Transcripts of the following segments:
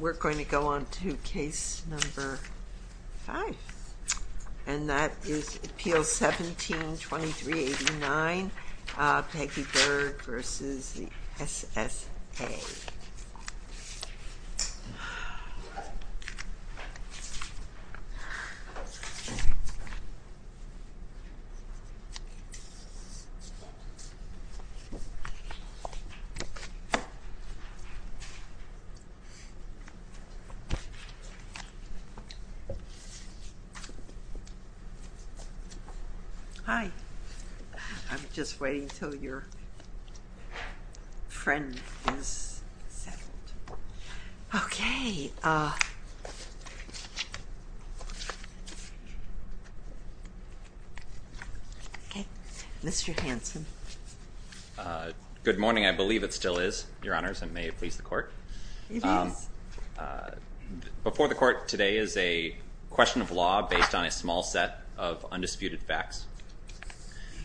We're going to go on to Case No. 5, and that is Appeal 17-2389, Peggy Berg v. SSA. Hi. I'm just waiting until your friend is settled. Okay. Okay. Mr. Hanson. Good morning. I believe it still is, Your Honors, and may it please the Court. It is. Before the Court today is a question of law based on a small set of undisputed facts.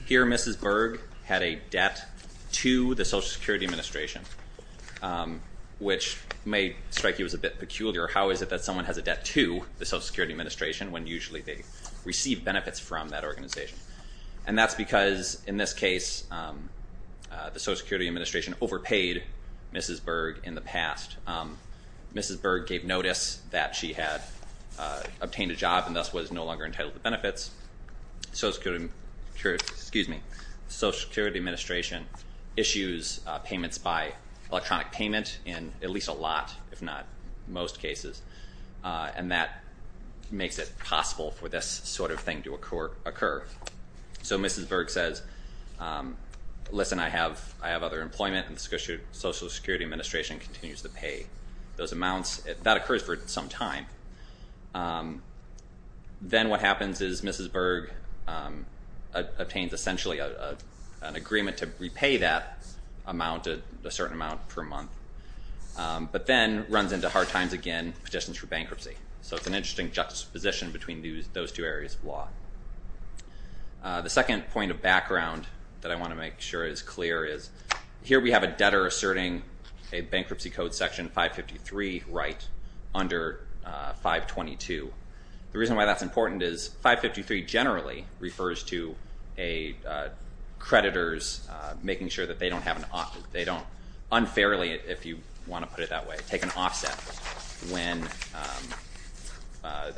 Here, Mrs. Berg had a debt to the Social Security Administration, which may strike you as a bit peculiar. How is it that someone has a debt to the Social Security Administration when usually they receive benefits from that organization? And that's because, in this case, the Social Security Administration overpaid Mrs. Berg in the past. Mrs. Berg gave notice that she had obtained a job and thus was no longer entitled to benefits. The Social Security Administration issues payments by electronic payment in at least a lot, if not most cases, and that makes it possible for this sort of thing to occur. So Mrs. Berg says, listen, I have other employment, and the Social Security Administration continues to pay those amounts. That occurs for some time. Then what happens is Mrs. Berg obtains, essentially, an agreement to repay that amount, a certain amount per month, but then runs into hard times again, petitions for bankruptcy. So it's an interesting juxtaposition between those two areas of law. The second point of background that I want to make sure is clear is, here we have a debtor asserting a Bankruptcy Code Section 553 right under 522. The reason why that's important is 553 generally refers to creditors making sure that they don't unfairly if you want to put it that way, take an offset,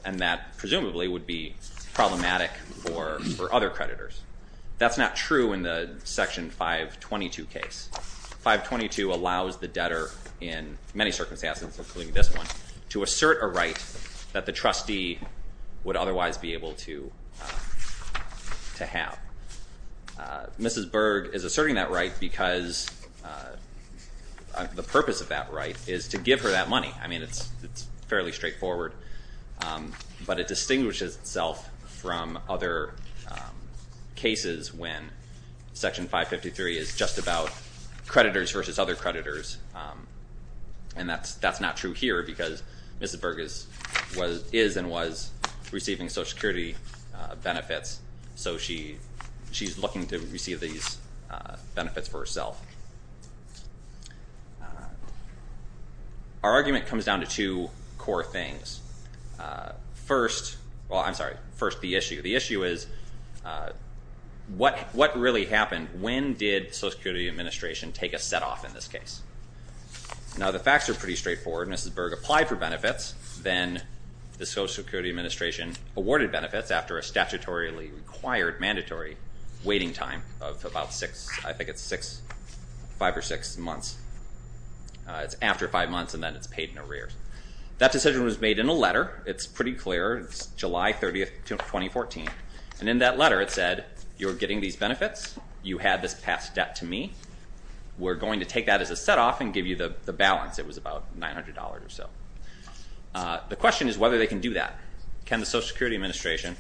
and that presumably would be problematic for other creditors. That's not true in the Section 522 case. 522 allows the debtor in many circumstances, including this one, to assert a right that the trustee would otherwise be able to have. Mrs. Berg is asserting that right because the purpose of that right is to give her that money. I mean, it's fairly straightforward, but it distinguishes itself from other cases when Section 553 is just about creditors versus other creditors, and that's not true here because Mrs. Berg is and was receiving Social Security benefits, so she's looking to receive these benefits for herself. Our argument comes down to two core things. First, well, I'm sorry, first the issue. The issue is what really happened? When did the Social Security Administration take a set off in this case? Now, the facts are pretty straightforward. Mrs. Berg applied for benefits. Then the Social Security Administration awarded benefits after a statutorily required, mandatory waiting time of about six, I think it's five or six months. It's after five months, and then it's paid in arrears. That decision was made in a letter. It's pretty clear. It's July 30th, 2014. And in that letter it said, you're getting these benefits. You had this past debt to me. We're going to take that as a set off and give you the balance. It was about $900 or so. The question is whether they can do that. Can the Social Security Administration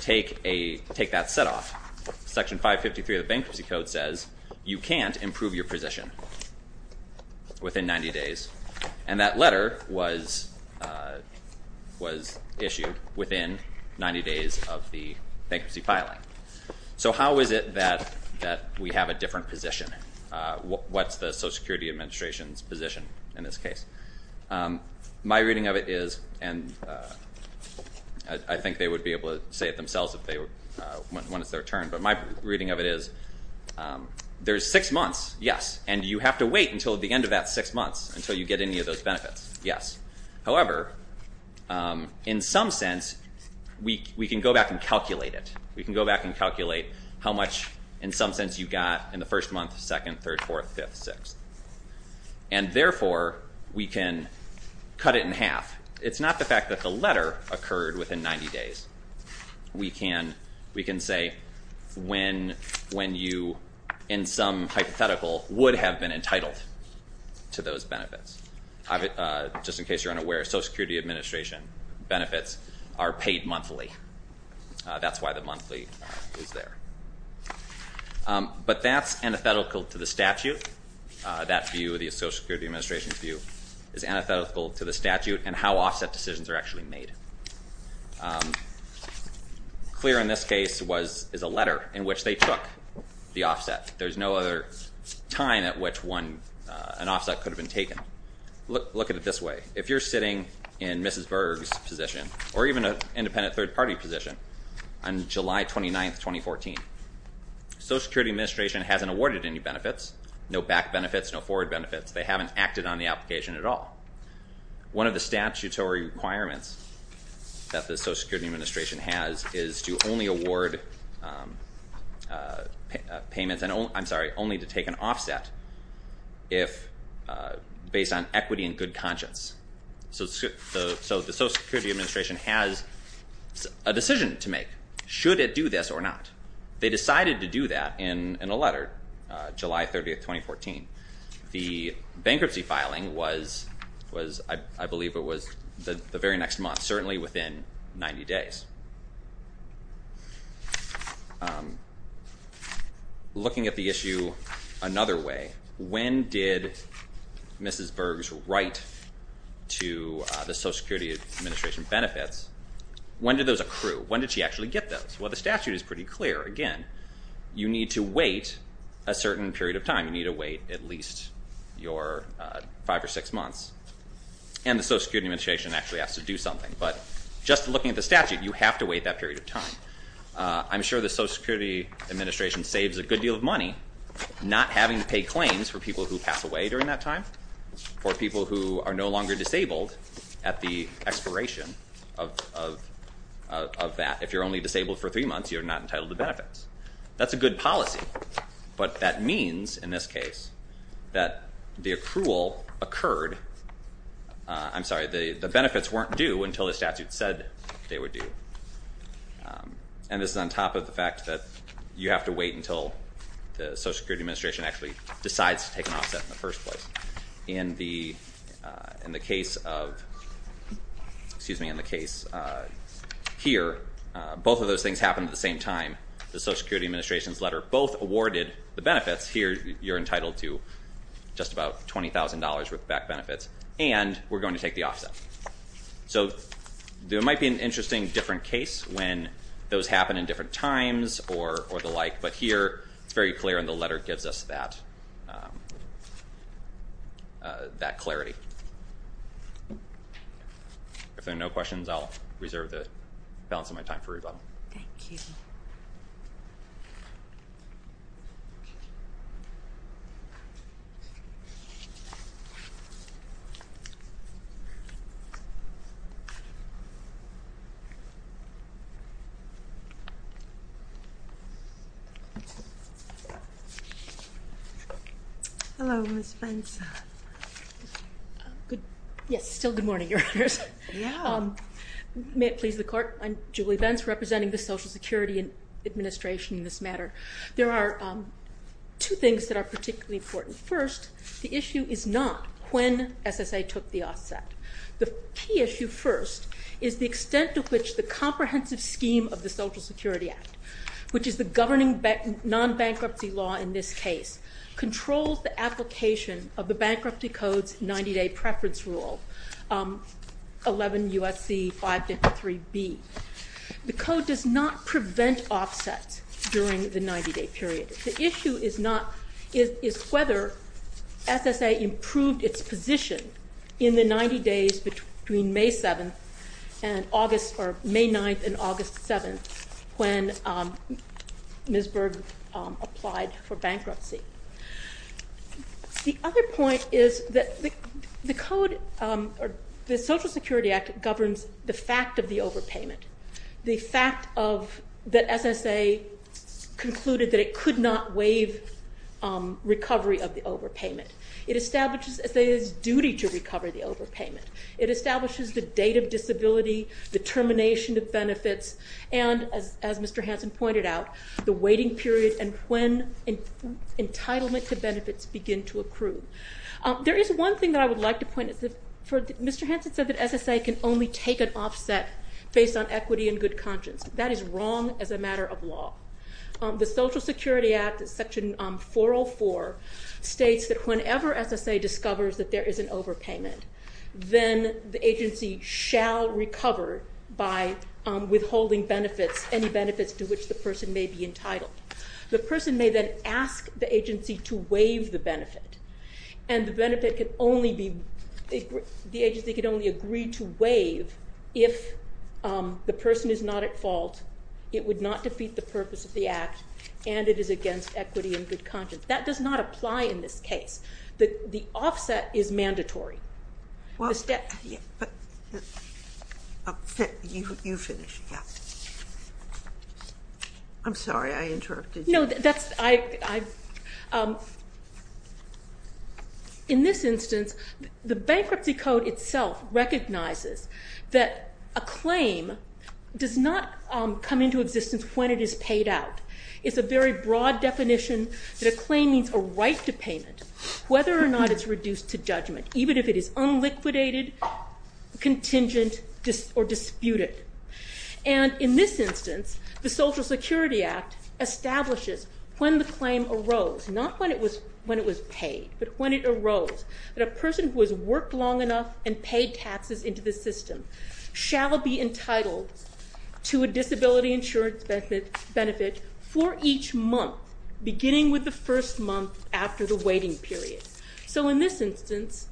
take that set off? Section 553 of the Bankruptcy Code says you can't improve your position within 90 days, and that letter was issued within 90 days of the bankruptcy filing. So how is it that we have a different position? What's the Social Security Administration's position in this case? My reading of it is, and I think they would be able to say it themselves when it's their turn, but my reading of it is there's six months, yes, and you have to wait until the end of that six months until you get any of those benefits, yes. However, in some sense, we can go back and calculate it. We can go back and calculate how much, in some sense, you got in the first month, second, third, fourth, fifth, sixth. And therefore, we can cut it in half. It's not the fact that the letter occurred within 90 days. We can say when you, in some hypothetical, would have been entitled to those benefits. Just in case you're unaware, Social Security Administration benefits are paid monthly. That's why the monthly is there. But that's antithetical to the statute. That view, the Social Security Administration's view, is antithetical to the statute and how offset decisions are actually made. Clear in this case is a letter in which they took the offset. There's no other time at which an offset could have been taken. Look at it this way. If you're sitting in Mrs. Berg's position, or even an independent third-party position, on July 29th, 2014, Social Security Administration hasn't awarded any benefits, no back benefits, no forward benefits. They haven't acted on the application at all. One of the statutory requirements that the Social Security Administration has is to only award payments and only to take an offset based on equity and good conscience. So the Social Security Administration has a decision to make, should it do this or not. They decided to do that in a letter, July 30th, 2014. The bankruptcy filing was, I believe, the very next month, certainly within 90 days. Looking at the issue another way, when did Mrs. Berg's right to the Social Security Administration benefits, when did those accrue? When did she actually get those? Well, the statute is pretty clear. At that time, you need to wait at least five or six months. And the Social Security Administration actually has to do something. But just looking at the statute, you have to wait that period of time. I'm sure the Social Security Administration saves a good deal of money not having to pay claims for people who pass away during that time, for people who are no longer disabled at the expiration of that. If you're only disabled for three months, you're not entitled to benefits. That's a good policy. But that means, in this case, that the accrual occurred – I'm sorry, the benefits weren't due until the statute said they were due. And this is on top of the fact that you have to wait until the Social Security Administration actually decides to take an offset in the first place. In the case of – excuse me, in the case here, both of those things happened at the same time. The Social Security Administration's letter both awarded the benefits. Here, you're entitled to just about $20,000 with back benefits. And we're going to take the offset. So there might be an interesting different case when those happen in different times or the like. But here, it's very clear, and the letter gives us that clarity. If there are no questions, I'll reserve the balance of my time for rebuttal. Thank you. Hello, Ms. Benson. Yes, still good morning, Your Honors. Yeah. May it please the Court, I'm Julie Benz, representing the Social Security Administration in this matter. There are two things that are particularly important. First, the issue is not when SSA took the offset. The key issue first is the extent to which the comprehensive scheme of the Social Security Act, which is the governing non-bankruptcy law in this case, controls the application of the Bankruptcy Code's 90-day preference rule, 11 U.S.C. 523B. The code does not prevent offsets during the 90-day period. The issue is whether SSA improved its position in the 90 days between May 9th and August 7th when Ms. Berg applied for bankruptcy. The other point is that the Social Security Act governs the fact of the overpayment, the fact that SSA concluded that it could not waive recovery of the overpayment. It establishes SSA's duty to recover the overpayment. It establishes the date of disability, the termination of benefits, and, as Mr. Hansen pointed out, the waiting period and when entitlement to benefits begin to accrue. There is one thing that I would like to point out. Mr. Hansen said that SSA can only take an offset based on equity and good conscience. That is wrong as a matter of law. The Social Security Act, Section 404, states that whenever SSA discovers that there is an overpayment, then the agency shall recover by withholding benefits, any benefits to which the person may be entitled. The person may then ask the agency to waive the benefit, and the agency could only agree to waive if the person is not at fault, it would not defeat the purpose of the act, and it is against equity and good conscience. That does not apply in this case. The offset is mandatory. In this instance, the Bankruptcy Code itself recognizes that a claim does not come into existence when it is paid out. It is a very broad definition that a claim means a right to payment, whether or not it is reduced to judgment, even if it is unliquidated, contingent, or disputed. In this instance, the Social Security Act establishes when the claim arose, not when it was paid, but when it arose that a person who has worked long enough and paid taxes into the system shall be entitled to a disability insurance benefit for each month beginning with the first month after the waiting period. So in this instance,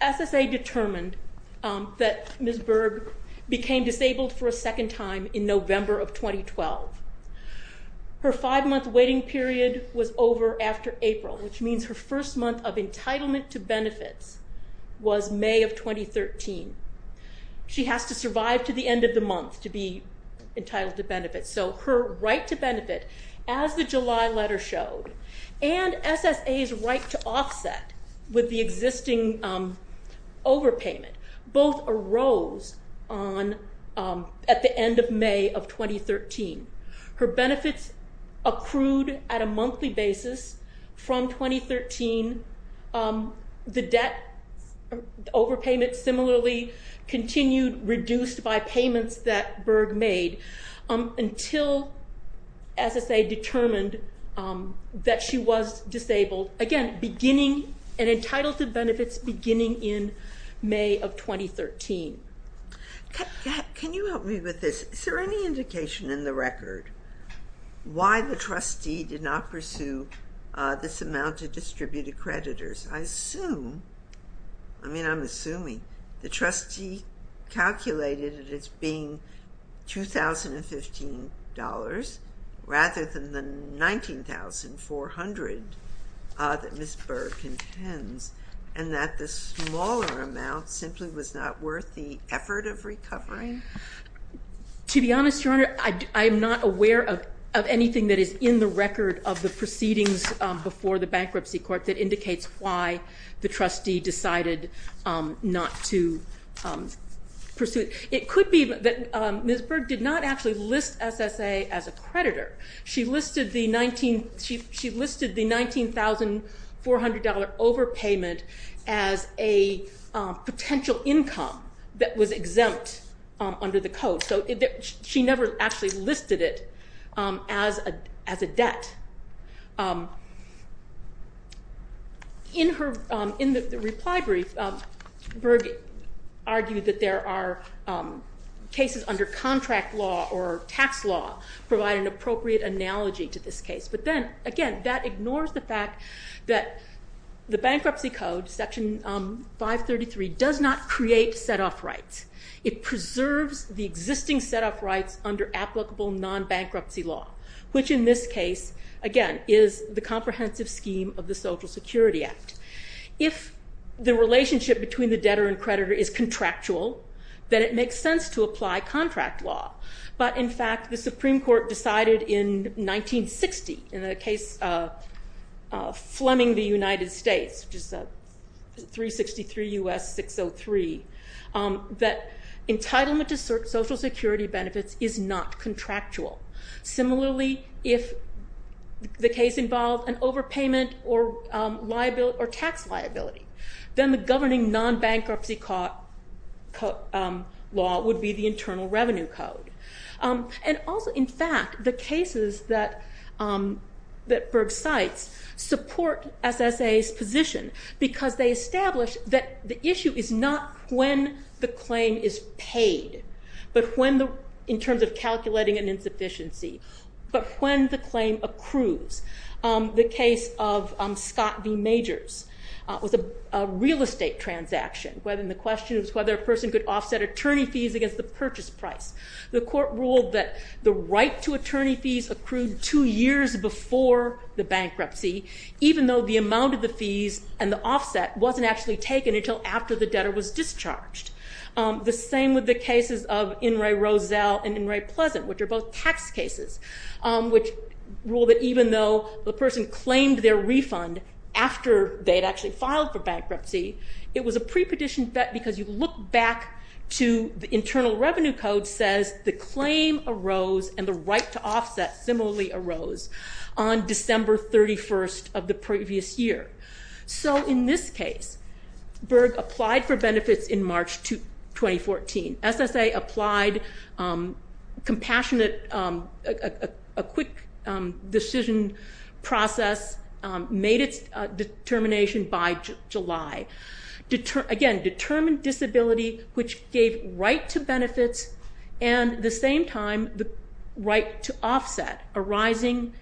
SSA determined that Ms. Berg became disabled for a second time in November of 2012. Her five-month waiting period was over after April, which means her first month of entitlement to benefits was May of 2013. She has to survive to the end of the month to be entitled to benefits, so her right to benefit, as the July letter showed, and SSA's right to offset with the existing overpayment both arose at the end of May of 2013. Her benefits accrued at a monthly basis from 2013. The debt overpayment similarly continued, reduced by payments that Berg made, until SSA determined that she was disabled. Again, an entitlement to benefits beginning in May of 2013. Can you help me with this? Is there any indication in the record why the trustee did not pursue this amount to distribute accreditors? I mean, I'm assuming the trustee calculated it as being $2,015 rather than the $19,400 that Ms. Berg intends, and that the smaller amount simply was not worth the effort of recovering? To be honest, Your Honor, I am not aware of anything that is in the record of the proceedings before the bankruptcy court that indicates why the trustee decided not to pursue it. It could be that Ms. Berg did not actually list SSA as a creditor. She listed the $19,400 overpayment as a potential income that was exempt under the code, so she never actually listed it as a debt. In the reply brief, Berg argued that there are cases under contract law or tax law provide an appropriate analogy to this case, but then, again, that ignores the fact that the bankruptcy code, Section 533, does not create set-off rights. It preserves the existing set-off rights under applicable non-bankruptcy law, which in this case, again, is the comprehensive scheme of the Social Security Act. If the relationship between the debtor and creditor is contractual, then it makes sense to apply contract law. But, in fact, the Supreme Court decided in 1960, in the case of Fleming v. United States, which is 363 U.S. 603, that entitlement to Social Security benefits is not contractual. Similarly, if the case involved an overpayment or tax liability, then the governing non-bankruptcy law would be the Internal Revenue Code. And also, in fact, the cases that Berg cites support SSA's position, because they establish that the issue is not when the claim is paid, in terms of calculating an insufficiency, but when the claim accrues. The case of Scott v. Majors was a real estate transaction. And the question was whether a person could offset attorney fees against the purchase price. The court ruled that the right to attorney fees accrued two years before the bankruptcy, even though the amount of the fees and the offset wasn't actually taken until after the debtor was discharged. The same with the cases of In re Roselle and In re Pleasant, which are both tax cases, which rule that even though the person claimed their refund after they'd actually filed for bankruptcy, it was a prepetition because you look back to the Internal Revenue Code says the claim arose and the right to offset similarly arose on December 31st of the previous year. So in this case, Berg applied for benefits in March 2014. SSA applied compassionate, a quick decision process, made its determination by July. Again, determined disability, which gave right to benefits and at the same time the right to offset arising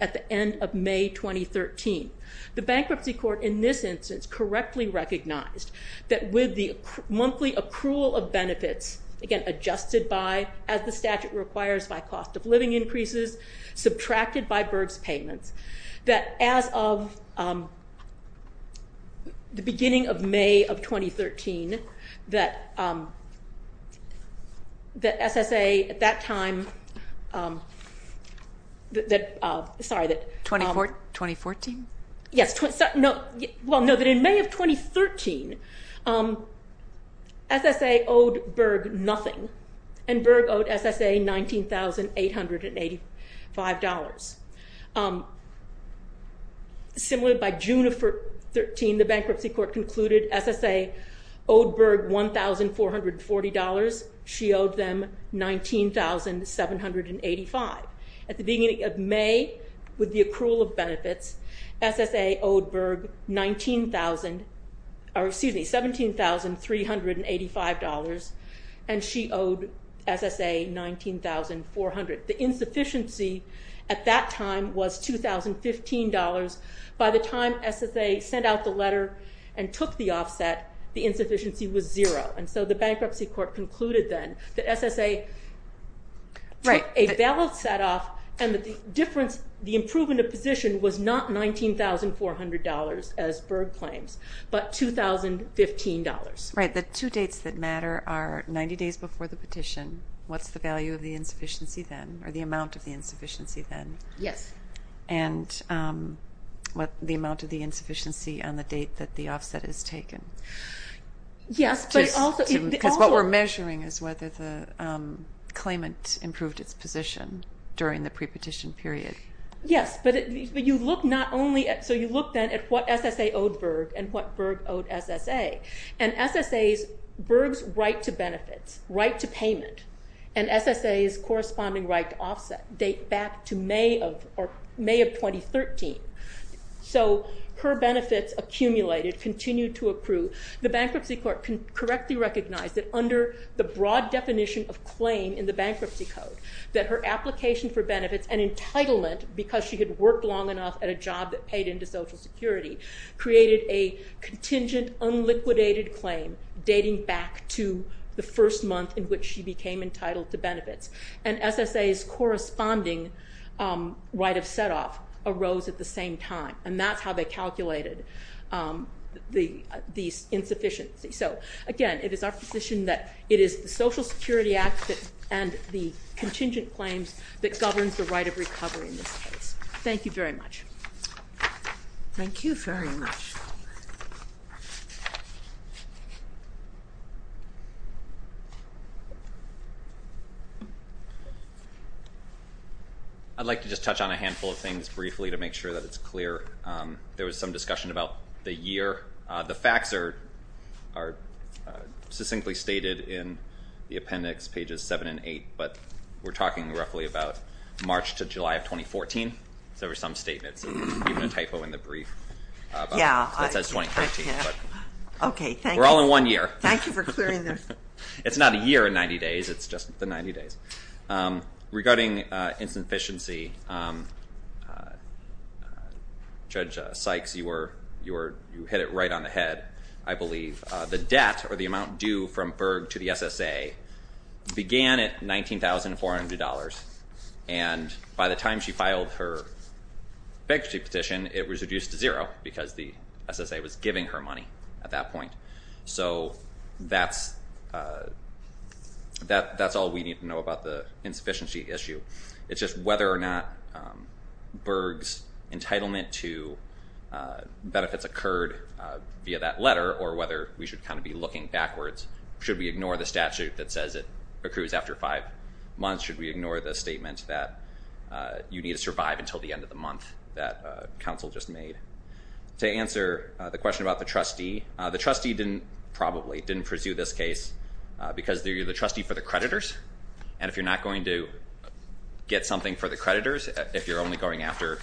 at the end of May 2013. The bankruptcy court in this instance correctly recognized that with the monthly accrual of benefits, again adjusted by, as the statute requires, by cost of living increases, subtracted by Berg's payments, that as of the beginning of May of 2013, that SSA at that time, sorry that- 2014? Yes, well no, that in May of 2013, SSA owed Berg nothing and Berg owed SSA $19,885. Similar, by June of 2013, the bankruptcy court concluded SSA owed Berg $1,440. She owed them $19,785. At the beginning of May, with the accrual of benefits, SSA owed Berg $17,385 and she owed SSA $19,400. The insufficiency at that time was $2,015. By the time SSA sent out the letter and took the offset, the insufficiency was zero and so the bankruptcy court concluded then that SSA took a valid set off and the difference, the improvement of position was not $19,400 as Berg claims, but $2,015. Right, the two dates that matter are 90 days before the petition, what's the value of the insufficiency then, or the amount of the insufficiency then? Yes. And what the amount of the insufficiency on the date that the offset is taken. Yes, but also- Because what we're measuring is whether the claimant improved its position during the pre-petition period. Yes, but you look not only at, so you look then at what SSA owed Berg and what Berg owed SSA. And SSA's, Berg's right to benefits, right to payment, and SSA's corresponding right to offset date back to May of 2013. So her benefits accumulated, continued to accrue. The bankruptcy court correctly recognized that under the broad definition of claim in the bankruptcy code, that her application for benefits and entitlement, because she had worked long enough at a job that paid into Social Security, created a contingent, unliquidated claim dating back to the first month in which she became entitled to benefits. And SSA's corresponding right of set off arose at the same time, and that's how they calculated the insufficiency. So again, it is our position that it is the Social Security Act and the contingent claims that governs the right of recovery in this case. Thank you very much. Thank you very much. I'd like to just touch on a handful of things briefly to make sure that it's clear. There was some discussion about the year. The facts are succinctly stated in the appendix, pages 7 and 8, but we're talking roughly about March to July of 2014. So there were some statements, even a typo in the brief that says 2013. We're all in one year. Thank you for clearing this. It's not a year in 90 days. It's just the 90 days. Regarding insufficiency, Judge Sykes, you hit it right on the head, I believe. The debt or the amount due from Berg to the SSA began at $19,400, and by the time she filed her bankruptcy petition, it was reduced to zero because the SSA was giving her money at that point. So that's all we need to know about the insufficiency issue. It's just whether or not Berg's entitlement to benefits occurred via that letter or whether we should kind of be looking backwards. Should we ignore the statute that says it accrues after five months? Should we ignore the statement that you need to survive until the end of the month that counsel just made? To answer the question about the trustee, the trustee probably didn't pursue this case because you're the trustee for the creditors, and if you're not going to get something for the creditors, if you're only going after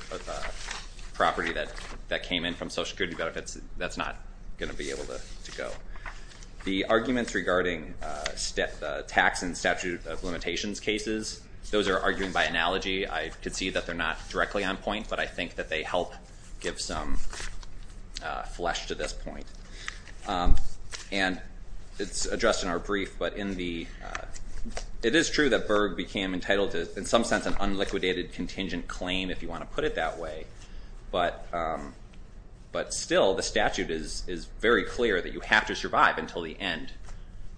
property that came in from Social Security benefits, that's not going to be able to go. The arguments regarding tax and statute of limitations cases, those are arguing by analogy. I could see that they're not directly on point, but I think that they help give some flesh to this point. And it's addressed in our brief, but it is true that Berg became entitled to, in some sense, an unliquidated contingent claim, if you want to put it that way, but still the statute is very clear that you have to survive until the end.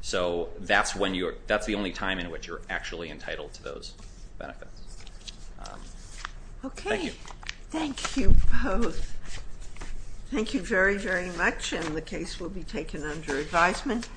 So that's the only time in which you're actually entitled to those benefits. Okay. Thank you both. Thank you very, very much, and the case will be taken under advisement.